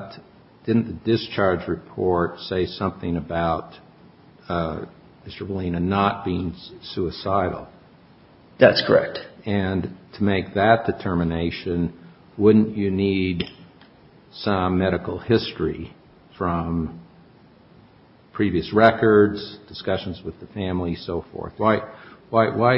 v. Petrescu v. Gabriella Petrescu v. Gabriella Petrescu v. Gabriella Petrescu v. Gabriella Petrescu v. Gabriella Petrescu v. Gabriella Petrescu v. Gabriella Petrescu v. Gabriella Petrescu v. Gabriella Petrescu v. Gabriella Petrescu v. Gabriella Petrescu v. Gabriella Petrescu Well,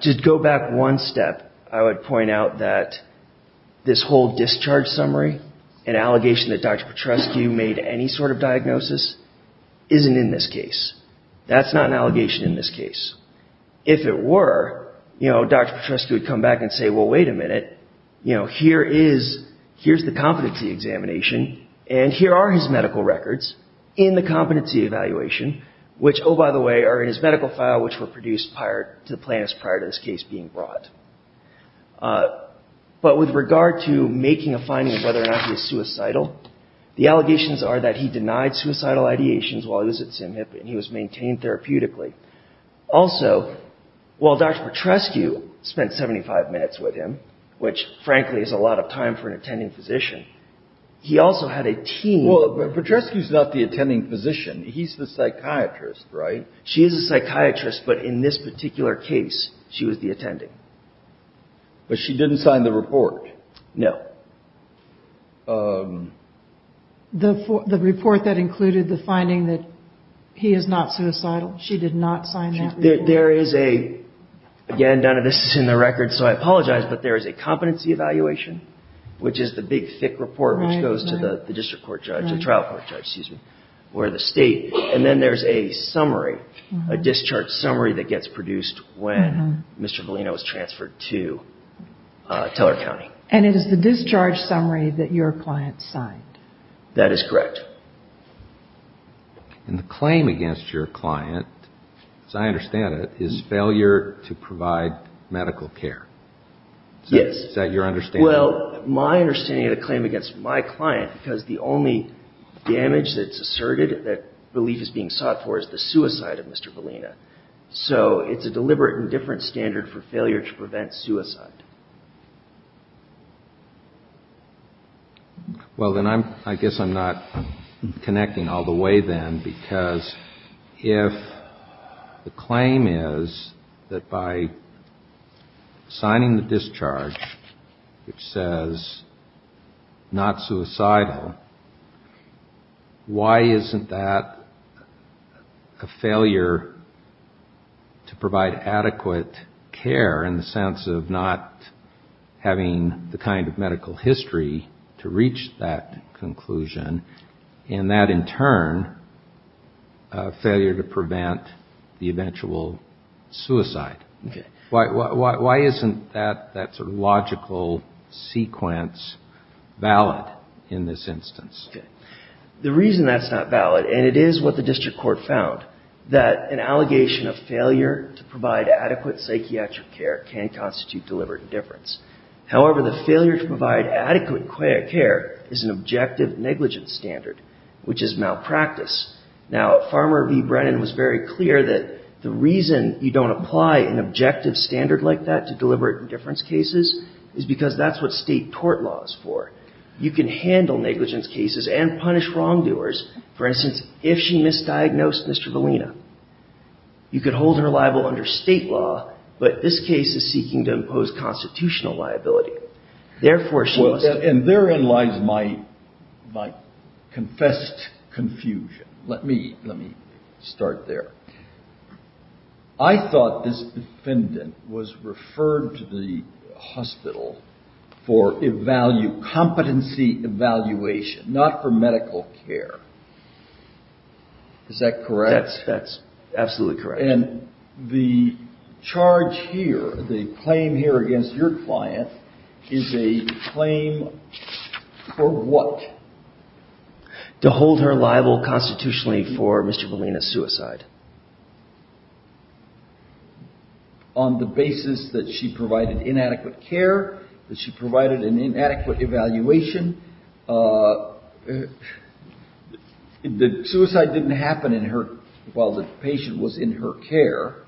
to go back one step, I would point out that this whole discharge summary, an allegation that Dr. Petrescu made any sort of diagnosis, isn't in this case. That's not an allegation in this case. If it were, Dr. Petrescu would come back and say, well, wait a minute, here's the competency examination and here are his medical records in the competency evaluation, which, oh, by the way, are in his medical file, which were produced to the plaintiffs prior to this case being brought. But with regard to making a finding of whether or not he was suicidal, the allegations are that he denied suicidal ideations while he was at Sim Hip and he was maintained therapeutically. Also, while Dr. Petrescu spent 75 minutes with him, which, frankly, is a lot of time for an attending physician, he also had a team. Well, Petrescu's not the attending physician. He's the psychiatrist, right? She is a psychiatrist, but in this particular case, she was the attending. But she didn't sign the report. No. The report that included the finding that he is not suicidal, she did not sign that report? There is a, again, none of this is in the record, so I apologize, but there is a competency evaluation, which is the big thick report, which goes to the district court judge, the trial court judge, excuse me, or the state, and then there's a summary, a discharge summary that gets produced when Mr. Valina was transferred to Teller County. And it is the discharge summary that your client signed? That is correct. And the claim against your client, as I understand it, is failure to provide medical care. Yes. Is that your understanding? Well, my understanding of the claim against my client, because the only damage that's asserted that relief is being sought for is the suicide of Mr. Valina. So it's a deliberate and different standard for failure to prevent suicide. Well, then I guess I'm not connecting all the way then, because if the claim is that by signing the discharge, which says not suicidal, why isn't that a failure to provide adequate care in the sense of not having the kind of medical history to reach that conclusion, and that in turn, failure to prevent the eventual suicide? Why isn't that sort of logical sequence valid in this instance? The reason that's not valid, and it is what the district court found, that an allegation of failure to provide adequate psychiatric care can constitute deliberate indifference. However, the failure to provide adequate care is an objective negligence standard, which is malpractice. Now, Farmer v. Brennan was very clear that the reason you don't apply an objective standard like that to deliberate indifference cases is because that's what state tort law is for. You can handle negligence cases and punish wrongdoers. For instance, if she misdiagnosed Mr. Valina, you could hold her liable under state law, but this case is seeking to impose constitutional liability. Therefore, she must- And therein lies my confessed confusion. Let me start there. I thought this defendant was referred to the hospital for competency evaluation, not for medical care. Is that correct? That's absolutely correct. And the charge here, the claim here against your client is a claim for what? To hold her liable constitutionally for Mr. Valina's suicide. On the basis that she provided inadequate care, that she provided an inadequate evaluation, the suicide didn't happen while the patient was in her care.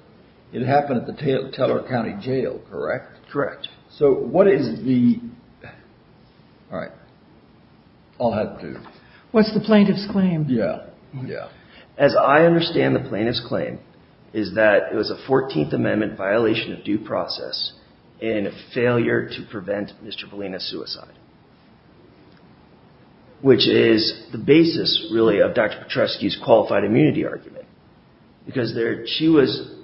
It happened at the Teller County Jail, correct? Correct. So what is the, all right. I'll have to- What's the plaintiff's claim? Yeah, yeah. As I understand the plaintiff's claim is that it was a 14th Amendment violation of due process in a failure to prevent Mr. Valina's suicide, which is the basis, really, of Dr. Petrescu's qualified immunity argument, because there, she was,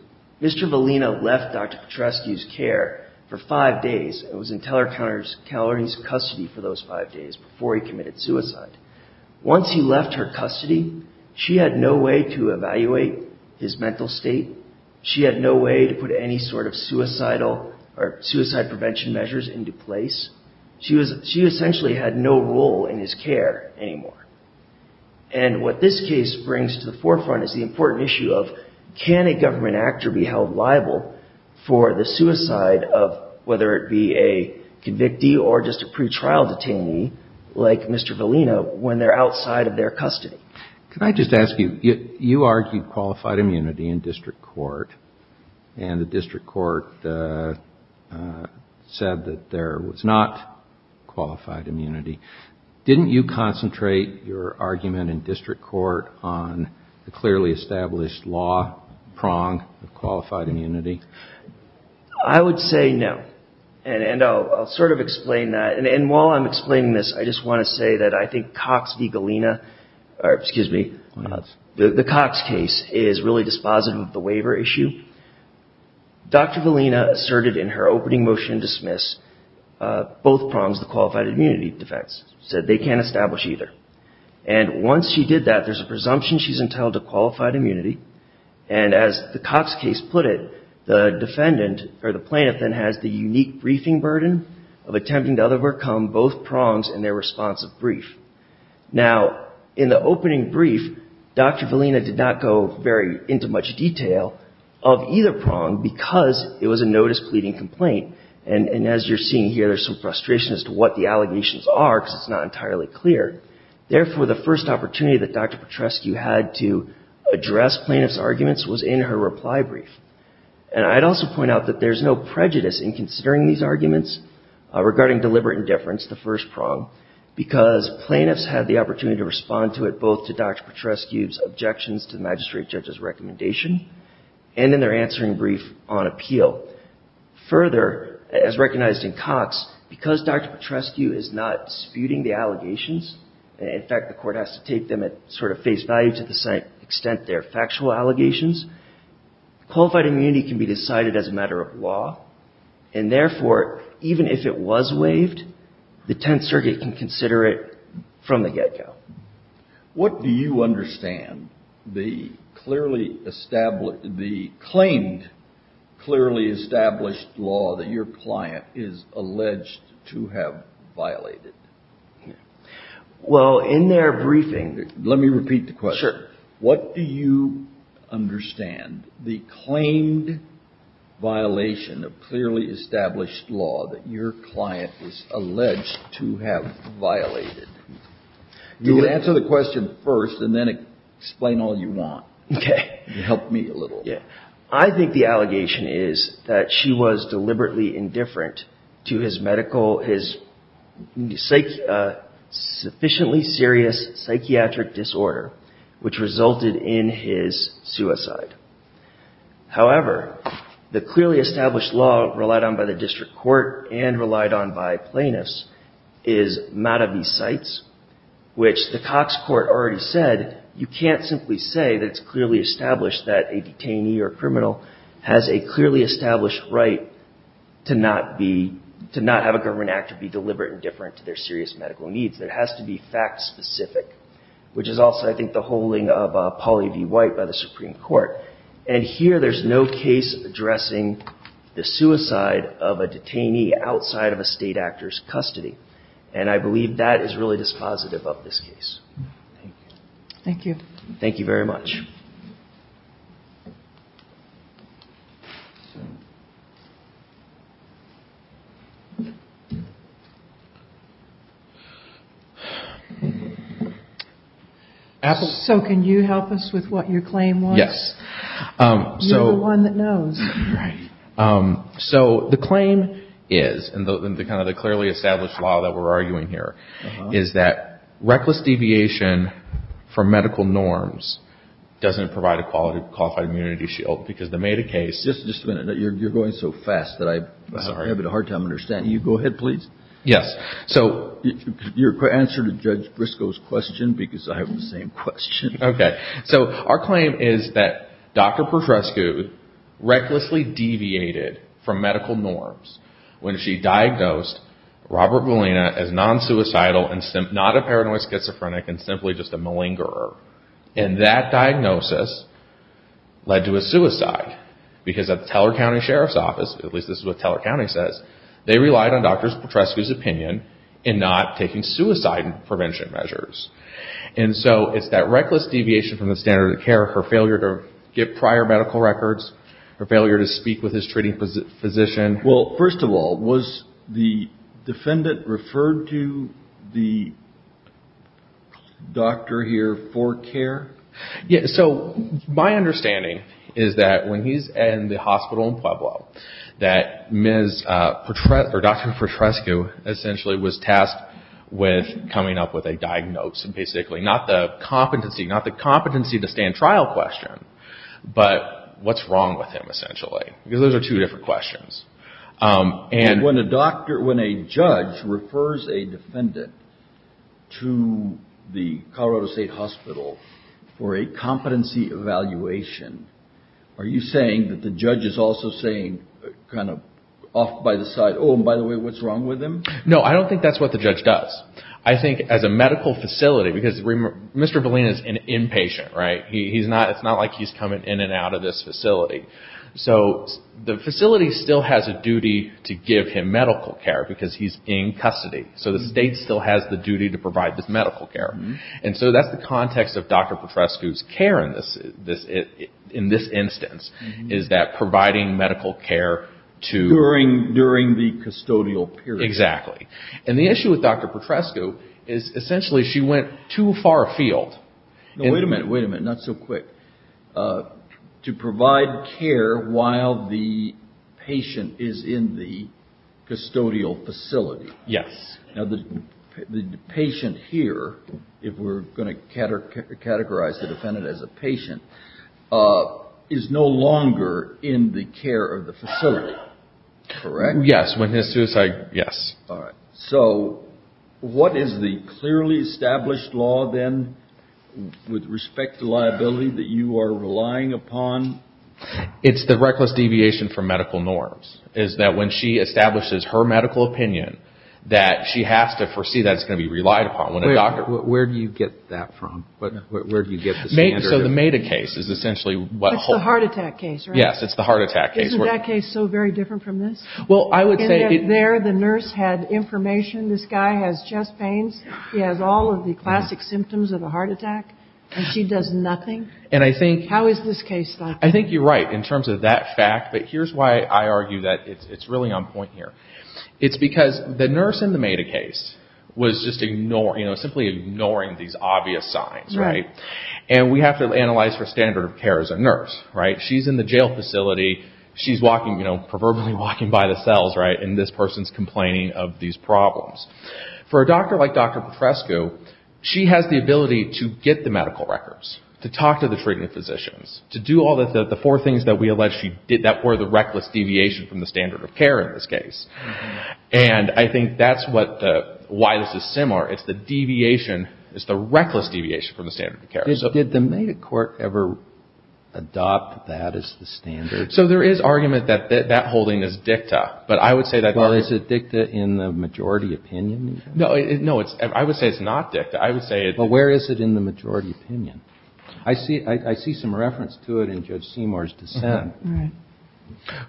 Mr. Valina left Dr. Petrescu's care for five days and was in Teller County's custody for those five days before he committed suicide. Once he left her custody, she had no way to evaluate his mental state. She had no way to put any sort of suicidal or suicide prevention measures into place. She essentially had no role in his care anymore. And what this case brings to the forefront is the important issue of, can a government actor be held liable for the suicide of whether it be a convictee or just a pretrial detainee, like Mr. Valina, when they're outside of their custody? Can I just ask you, you argued qualified immunity in district court and the district court said that there was not qualified immunity. Didn't you concentrate your argument in district court on the clearly established law prong of qualified immunity? I would say no. And I'll sort of explain that. And while I'm explaining this, I just want to say that I think Cox v. Galina, or excuse me, the Cox case is really dispositive of the waiver issue. Dr. Valina asserted in her opening motion dismiss both prongs of the qualified immunity defects, said they can't establish either. And once she did that, there's a presumption she's entitled to qualified immunity. And as the Cox case put it, the defendant or the plaintiff then has the unique briefing burden of attempting to overcome both prongs in their response of brief. Now, in the opening brief, Dr. Valina did not go very into much detail of either prong because it was a notice pleading complaint. And as you're seeing here, there's some frustration as to what the allegations are because it's not entirely clear. Therefore, the first opportunity that Dr. Petrescu had to address plaintiff's arguments was in her reply brief. And I'd also point out that there's no prejudice in considering these arguments regarding deliberate indifference, the first prong, because plaintiffs had the opportunity to respond to it both to Dr. Petrescu's objections to the magistrate judge's recommendation, and in their answering brief on appeal. Further, as recognized in Cox, because Dr. Petrescu is not disputing the allegations, in fact, the court has to take them sort of face value to the extent they're factual allegations. Qualified immunity can be decided as a matter of law. And therefore, even if it was waived, the Tenth Circuit can consider it from the get-go. What do you understand the clearly established, the claimed clearly established law that your client is alleged to have violated? Well, in their briefing, let me repeat the question. What do you understand the claimed violation of clearly established law that your client was alleged to have violated? You can answer the question first and then explain all you want. Okay. Help me a little. I think the allegation is that she was deliberately indifferent to his medical, his sufficiently serious psychiatric disorder, which resulted in his suicide. However, the clearly established law relied on by the district court and relied on by plaintiffs is Mata v. Seitz, which the Cox court already said, you can't simply say that it's clearly established that a detainee or criminal has a clearly established right to not be, to not have a government act to be deliberate and different to their serious medical needs. That has to be fact-specific, which is also I think the holding of Polly v. White by the Supreme Court. And here there's no case addressing the suicide of a detainee outside of a state actor's custody. And I believe that is really dispositive of this case. Thank you. Thank you very much. Thank you. So can you help us with what your claim was? Yes. You're the one that knows. Right. So the claim is, and the kind of the clearly established law that we're arguing here, is that reckless deviation from medical norms doesn't provide a qualified immunity shield because the Mata case, just a minute, you're going so fast that I have a hard time understanding you. Go ahead, please. Yes. So your answer to Judge Briscoe's question, because I have the same question. Okay. So our claim is that Dr. Petrescu recklessly deviated from medical norms when she diagnosed Robert Molina as non-suicidal and not a paranoid schizophrenic and simply just a malingerer. And that diagnosis led to a suicide because at the Teller County Sheriff's Office, at least this is what Teller County says, they relied on Dr. Petrescu's opinion in not taking suicide prevention measures. And so it's that reckless deviation from the standard of care, her failure to get prior medical records, her failure to speak with his treating physician. Well, first of all, was the defendant referred to the doctor here for care? Yeah, so my understanding is that when he's in the hospital in Pueblo, that Dr. Petrescu essentially was tasked with coming up with a diagnosis and basically not the competency, not the competency to stand trial question, but what's wrong with him essentially? Because those are two different questions. And when a doctor, when a judge refers a defendant to the Colorado State Hospital for a competency evaluation, are you saying that the judge is also saying kind of off by the side, oh, and by the way, what's wrong with him? No, I don't think that's what the judge does. I think as a medical facility, because Mr. Bellina is an inpatient, right? He's not, it's not like he's coming in and out of this facility. So the facility still has a duty to give him medical care because he's in custody. So the state still has the duty to provide this medical care. And so that's the context of Dr. Petrescu's care in this instance, is that providing medical care to... During the custodial period. Exactly. And the issue with Dr. Petrescu is essentially she went too far afield. No, wait a minute, wait a minute, not so quick. To provide care while the patient is in the custodial facility. Yes. Now the patient here, if we're going to categorize the defendant as a patient, is no longer in the care of the facility, correct? Yes, when his suicide, yes. All right, so what is the clearly established law then with respect to liability that you are relying upon? It's the reckless deviation from medical norms, is that when she establishes her medical opinion, that she has to foresee that it's going to be relied upon. Where do you get that from? Where do you get the standard? So the MEDA case is essentially what... It's the heart attack case, right? Yes, it's the heart attack case. Isn't that case so very different from this? Well, I would say... And yet there the nurse had information, this guy has chest pains, he has all of the classic symptoms of a heart attack, and she does nothing? And I think... How is this case like? I think you're right in terms of that fact, but here's why I argue that it's really on point here. It's because the nurse in the MEDA case was just simply ignoring these obvious signs, right? And we have to analyze her standard of care as a nurse, right? She's in the jail facility, she's proverbially walking by the cells, right? And this person's complaining of these problems. For a doctor like Dr. Petrescu, she has the ability to get the medical records, to talk to the treatment physicians, to do all the four things that we allege that were the reckless deviation from the standard of care in this case. And I think that's why this is similar. It's the deviation, it's the reckless deviation from the standard of care. Did the MEDA court ever adopt that as the standard? So there is argument that that holding is dicta, but I would say that... Well, is it dicta in the majority opinion? No, I would say it's not dicta. I would say... But where is it in the majority opinion? I see some reference to it in Judge Seymour's dissent. Right.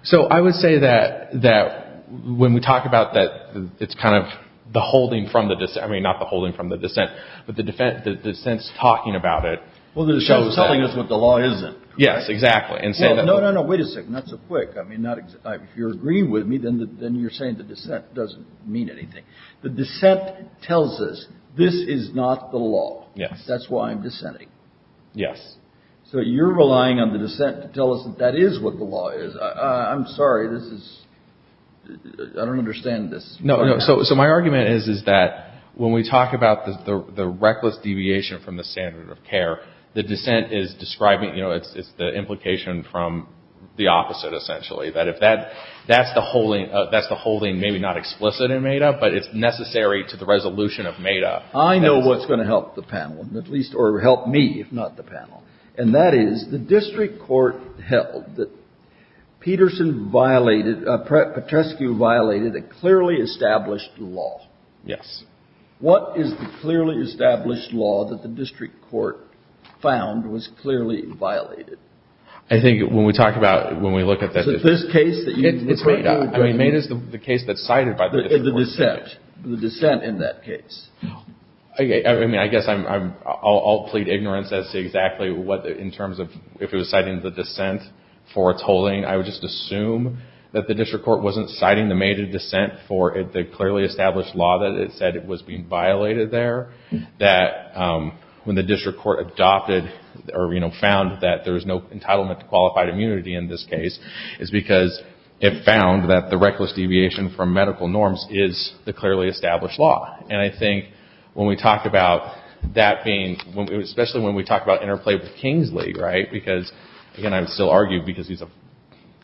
So I would say that when we talk about that, it's kind of the holding from the dissent, I mean, not the holding from the dissent, but the dissent's talking about it. Well, there's something that's what the law isn't. Yes, exactly. And say that... No, no, no, wait a second, not so quick. I mean, if you're agreeing with me, then you're saying the dissent doesn't mean anything. The dissent tells us this is not the law. That's why I'm dissenting. Yes. So you're relying on the dissent to tell us that is what the law is. I'm sorry, this is, I don't understand this. No, no, so my argument is, is that when we talk about the reckless deviation from the standard of care, the dissent is describing, you know, it's the implication from the opposite essentially, that if that's the holding, that's the holding maybe not explicit in MADA, but it's necessary to the resolution of MADA. I know what's going to help the panel at least, or help me if not the panel. And that is the district court held that Peterson violated, Petrescu violated a clearly established law. Yes. What is the clearly established law that the district court found was clearly violated? I think when we talk about, when we look at that- So this case that you- It's MADA. I mean, MADA is the case that's cited by the district court. The dissent, the dissent in that case. Okay, I mean, I guess I'll plead ignorance as to exactly what, in terms of, if it was citing the dissent for its holding, I would just assume that the district court wasn't citing the MADA dissent for the clearly established law that it said it was being violated there. That when the district court adopted, or, you know, found that there was no entitlement to qualified immunity in this case, is because it found that the reckless deviation from medical norms is the clearly established law. And I think when we talk about that being, especially when we talk about interplay with Kingsley, right, because, again, I would still argue because he's a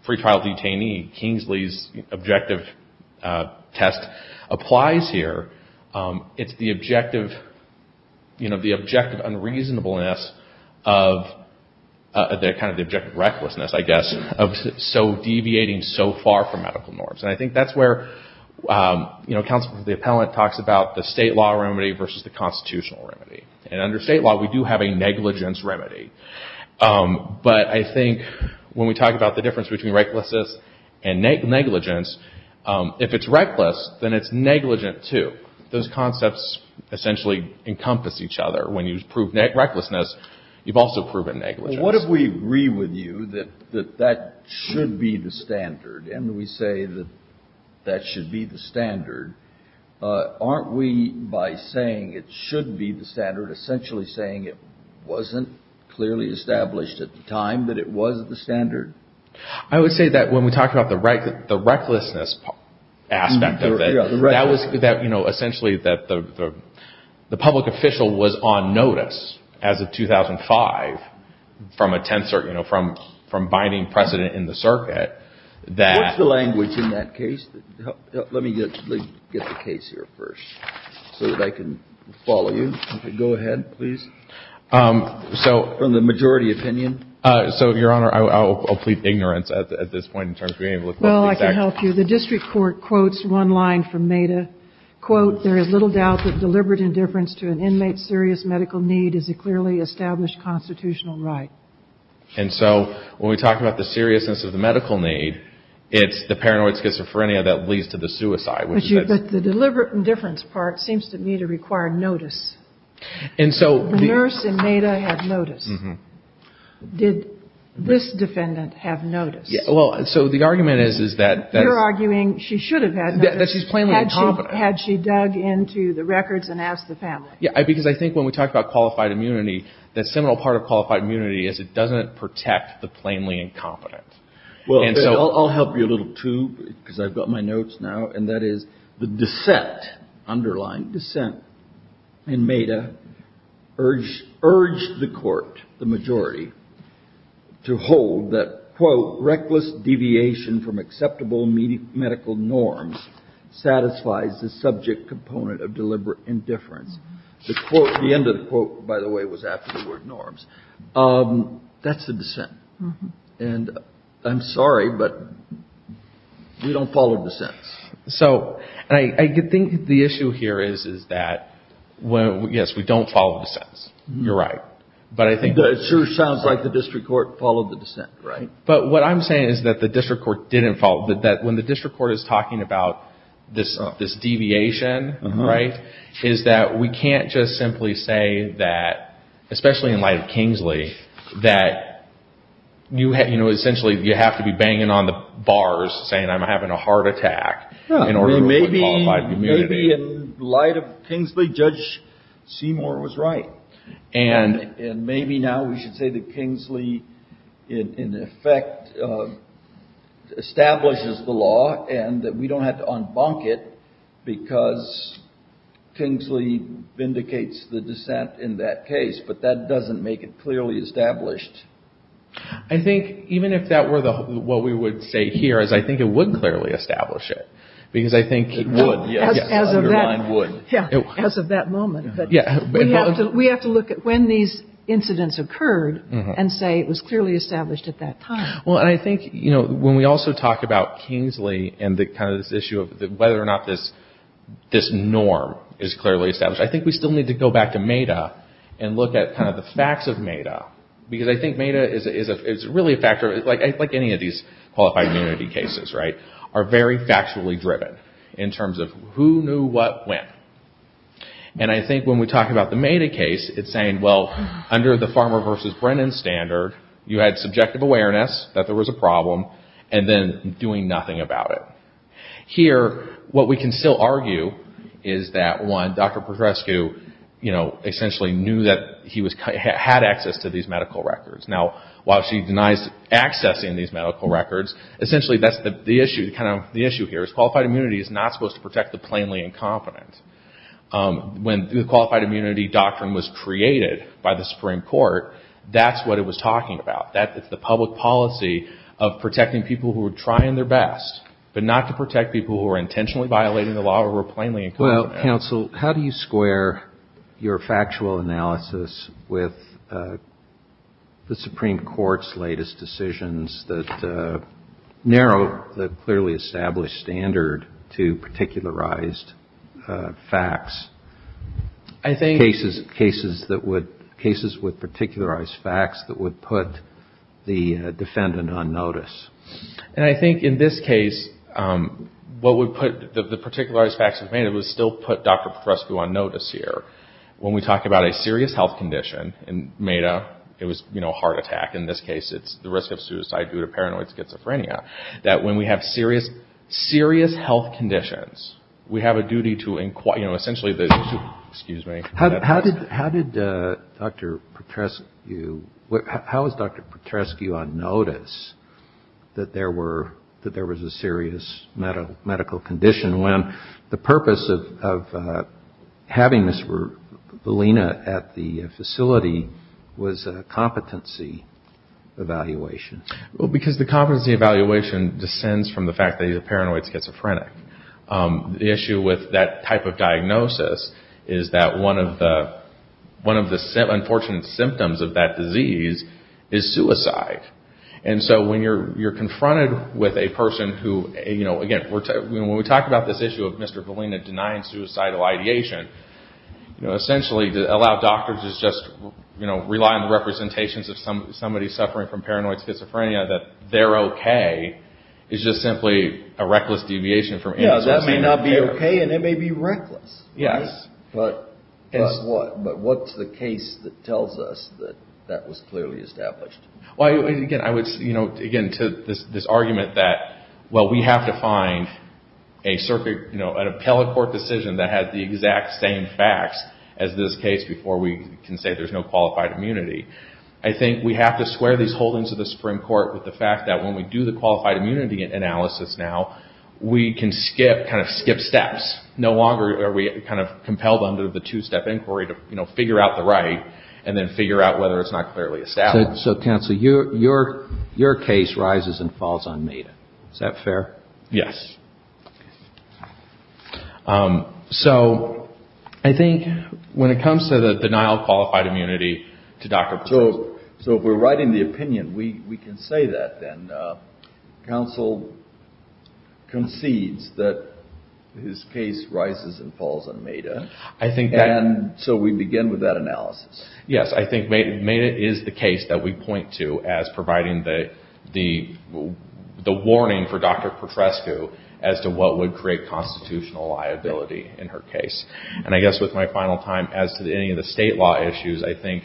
free trial detainee, Kingsley's objective test applies here. It's the objective, you know, the objective unreasonableness of the, kind of the objective recklessness, I guess, of so deviating so far from medical norms. And I think that's where, you know, counsel for the appellant talks about the state law remedy versus the constitutional remedy. And under state law, we do have a negligence remedy. But I think when we talk about the difference between recklessness and negligence, if it's reckless, then it's negligent too. Those concepts essentially encompass each other. When you prove recklessness, you've also proven negligence. Well, what if we agree with you that that should be the standard? And we say that that should be the standard. Aren't we, by saying it should be the standard, essentially saying it wasn't clearly established at the time that it was the standard? I would say that when we talked about the recklessness aspect of it, that was, you know, essentially that the public official was on notice as of 2005 from a tensor, you know, from binding precedent in the circuit, that- What's the language in that case? Let me get the case here first, so that I can follow you. Go ahead, please. So- From the majority opinion. So, Your Honor, I'll plead ignorance at this point in terms of being able to- Well, I can help you. The district court quotes one line from Meda. Quote, there is little doubt that deliberate indifference to an inmate's serious medical need is a clearly established constitutional right. And so, when we talk about the seriousness of the medical need, it's the paranoid schizophrenia that leads to the suicide, which is- But the deliberate indifference part seems to me to require notice. And so- The nurse in Meda had notice. Did this defendant have notice? Well, so the argument is that- You're arguing she should have had notice. That she's plainly incompetent. Had she dug into the records and asked the family? Yeah, because I think when we talk about qualified immunity, that seminal part of qualified immunity is it doesn't protect the plainly incompetent. Well, I'll help you a little, too, because I've got my notes now. And that is the dissent, underlying dissent, in Meda urged the court, the majority, to hold that, quote, reckless deviation from acceptable medical norms satisfies the subject component of deliberate indifference. The quote, the end of the quote, by the way, was after the word norms. That's the dissent. And I'm sorry, but we don't follow dissents. So, and I think the issue here is, is that, yes, we don't follow dissents. You're right. But I think- It sure sounds like the district court followed the dissent, right? But what I'm saying is that the district court didn't follow, that when the district court is talking about this deviation, right, is that we can't just simply say that, especially in light of Kingsley, that you have, you know, essentially, you have to be banging on the bars saying I'm having a heart attack in order to qualify for immunity. Well, maybe in light of Kingsley, Judge Seymour was right. And maybe now we should say that Kingsley, in effect, establishes the law and that we don't have to unbunk it because Kingsley vindicates the dissent in that case. But that doesn't make it clearly established. I think, even if that were what we would say here, is I think it would clearly establish it. Because I think- It would, yes. As of that moment, but we have to look at when these incidents occurred and say it was clearly established at that time. Well, and I think, you know, when we also talk about Kingsley and the kind of this issue of whether or not this norm is clearly established, I think we still need to go back to MATA and look at kind of the facts of MATA. Because I think MATA is really a factor, like any of these qualified immunity cases, right, are very factually driven in terms of who knew what when. And I think when we talk about the MATA case, it's saying, well, under the Farmer versus Brennan standard, you had subjective awareness that there was a problem and then doing nothing about it. Here, what we can still argue is that, one, Dr. Podrescu, you know, essentially knew that he had access to these medical records. Now, while she denies accessing these medical records, essentially, that's the issue, kind of the issue here is qualified immunity is not supposed to protect the plainly incompetent. When the qualified immunity doctrine was created by the Supreme Court, that's what it was talking about. That is the public policy of protecting people who are trying their best, but not to protect people who are intentionally violating the law who are plainly incompetent. Well, counsel, how do you square your factual analysis with the Supreme Court's latest decisions that narrow the clearly established standard to particularized facts? I think- Cases that would, cases with particularized facts that would put the defendant on notice. And I think in this case, what would put the particularized facts of MEDA would still put Dr. Podrescu on notice here. When we talk about a serious health condition in MEDA, it was, you know, a heart attack. In this case, it's the risk of suicide due to paranoid schizophrenia. That when we have serious, serious health conditions, we have a duty to inquire, you know, essentially the, excuse me. How did Dr. Podrescu, how was Dr. Podrescu on notice that there were, that there was a serious medical condition when the purpose of having Ms. Valina at the facility was a competency evaluation? Well, because the competency evaluation descends from the fact that he's a paranoid schizophrenic. The issue with that type of diagnosis is that one of the unfortunate symptoms of that disease is suicide. And so when you're confronted with a person who, you know, again, when we talk about this issue of Mr. Valina denying suicidal ideation, you know, essentially to allow doctors to just, you know, rely on the representations of somebody suffering from paranoid schizophrenia that they're okay is just simply a reckless deviation from any suicide. Yeah, that may not be okay, and it may be reckless. Yes. But guess what? But what's the case that tells us that that was clearly established? Well, again, I would, you know, again, to this argument that, well, we have to find a circuit, you know, an appellate court decision that has the exact same facts as this case before we can say there's no qualified immunity. I think we have to square these holdings of the Supreme Court with the fact that when we do the qualified immunity analysis now, we can skip, kind of skip steps. No longer are we kind of compelled under the two-step inquiry to, you know, figure out the right and then figure out whether it's not clearly established. So, counsel, your case rises and falls on MEDA. Is that fair? Yes. So I think when it comes to the denial of qualified immunity to Dr. Petros. So if we're writing the opinion, we can say that then. Counsel concedes that his case rises and falls on MEDA. I think that- And so we begin with that analysis. Yes, I think MEDA is the case that we point to as providing the warning for Dr. Petroscu as to what would create constitutional liability in her case. And I guess with my final time, as to any of the state law issues, I think,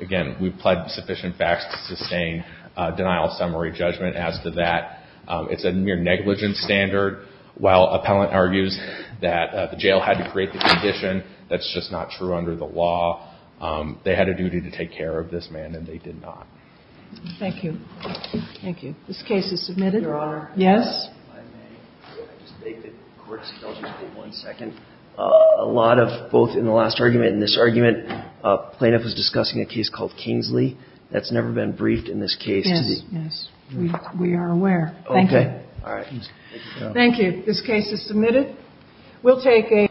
again, we've pled sufficient facts to sustain denial of summary judgment as to that. It's a mere negligence standard. While appellant argues that the jail had to create the condition, that's just not true under the law. They had a duty to take care of this man and they did not. Thank you. Thank you. This case is submitted. Your Honor. Yes? If I may, I just beg that the court indulges me one second. A lot of both in the last argument and this argument, plaintiff was discussing a case called Kingsley. That's never been briefed in this case. Yes, yes. We are aware. Okay. All right. Thank you. This case is submitted. We'll take a-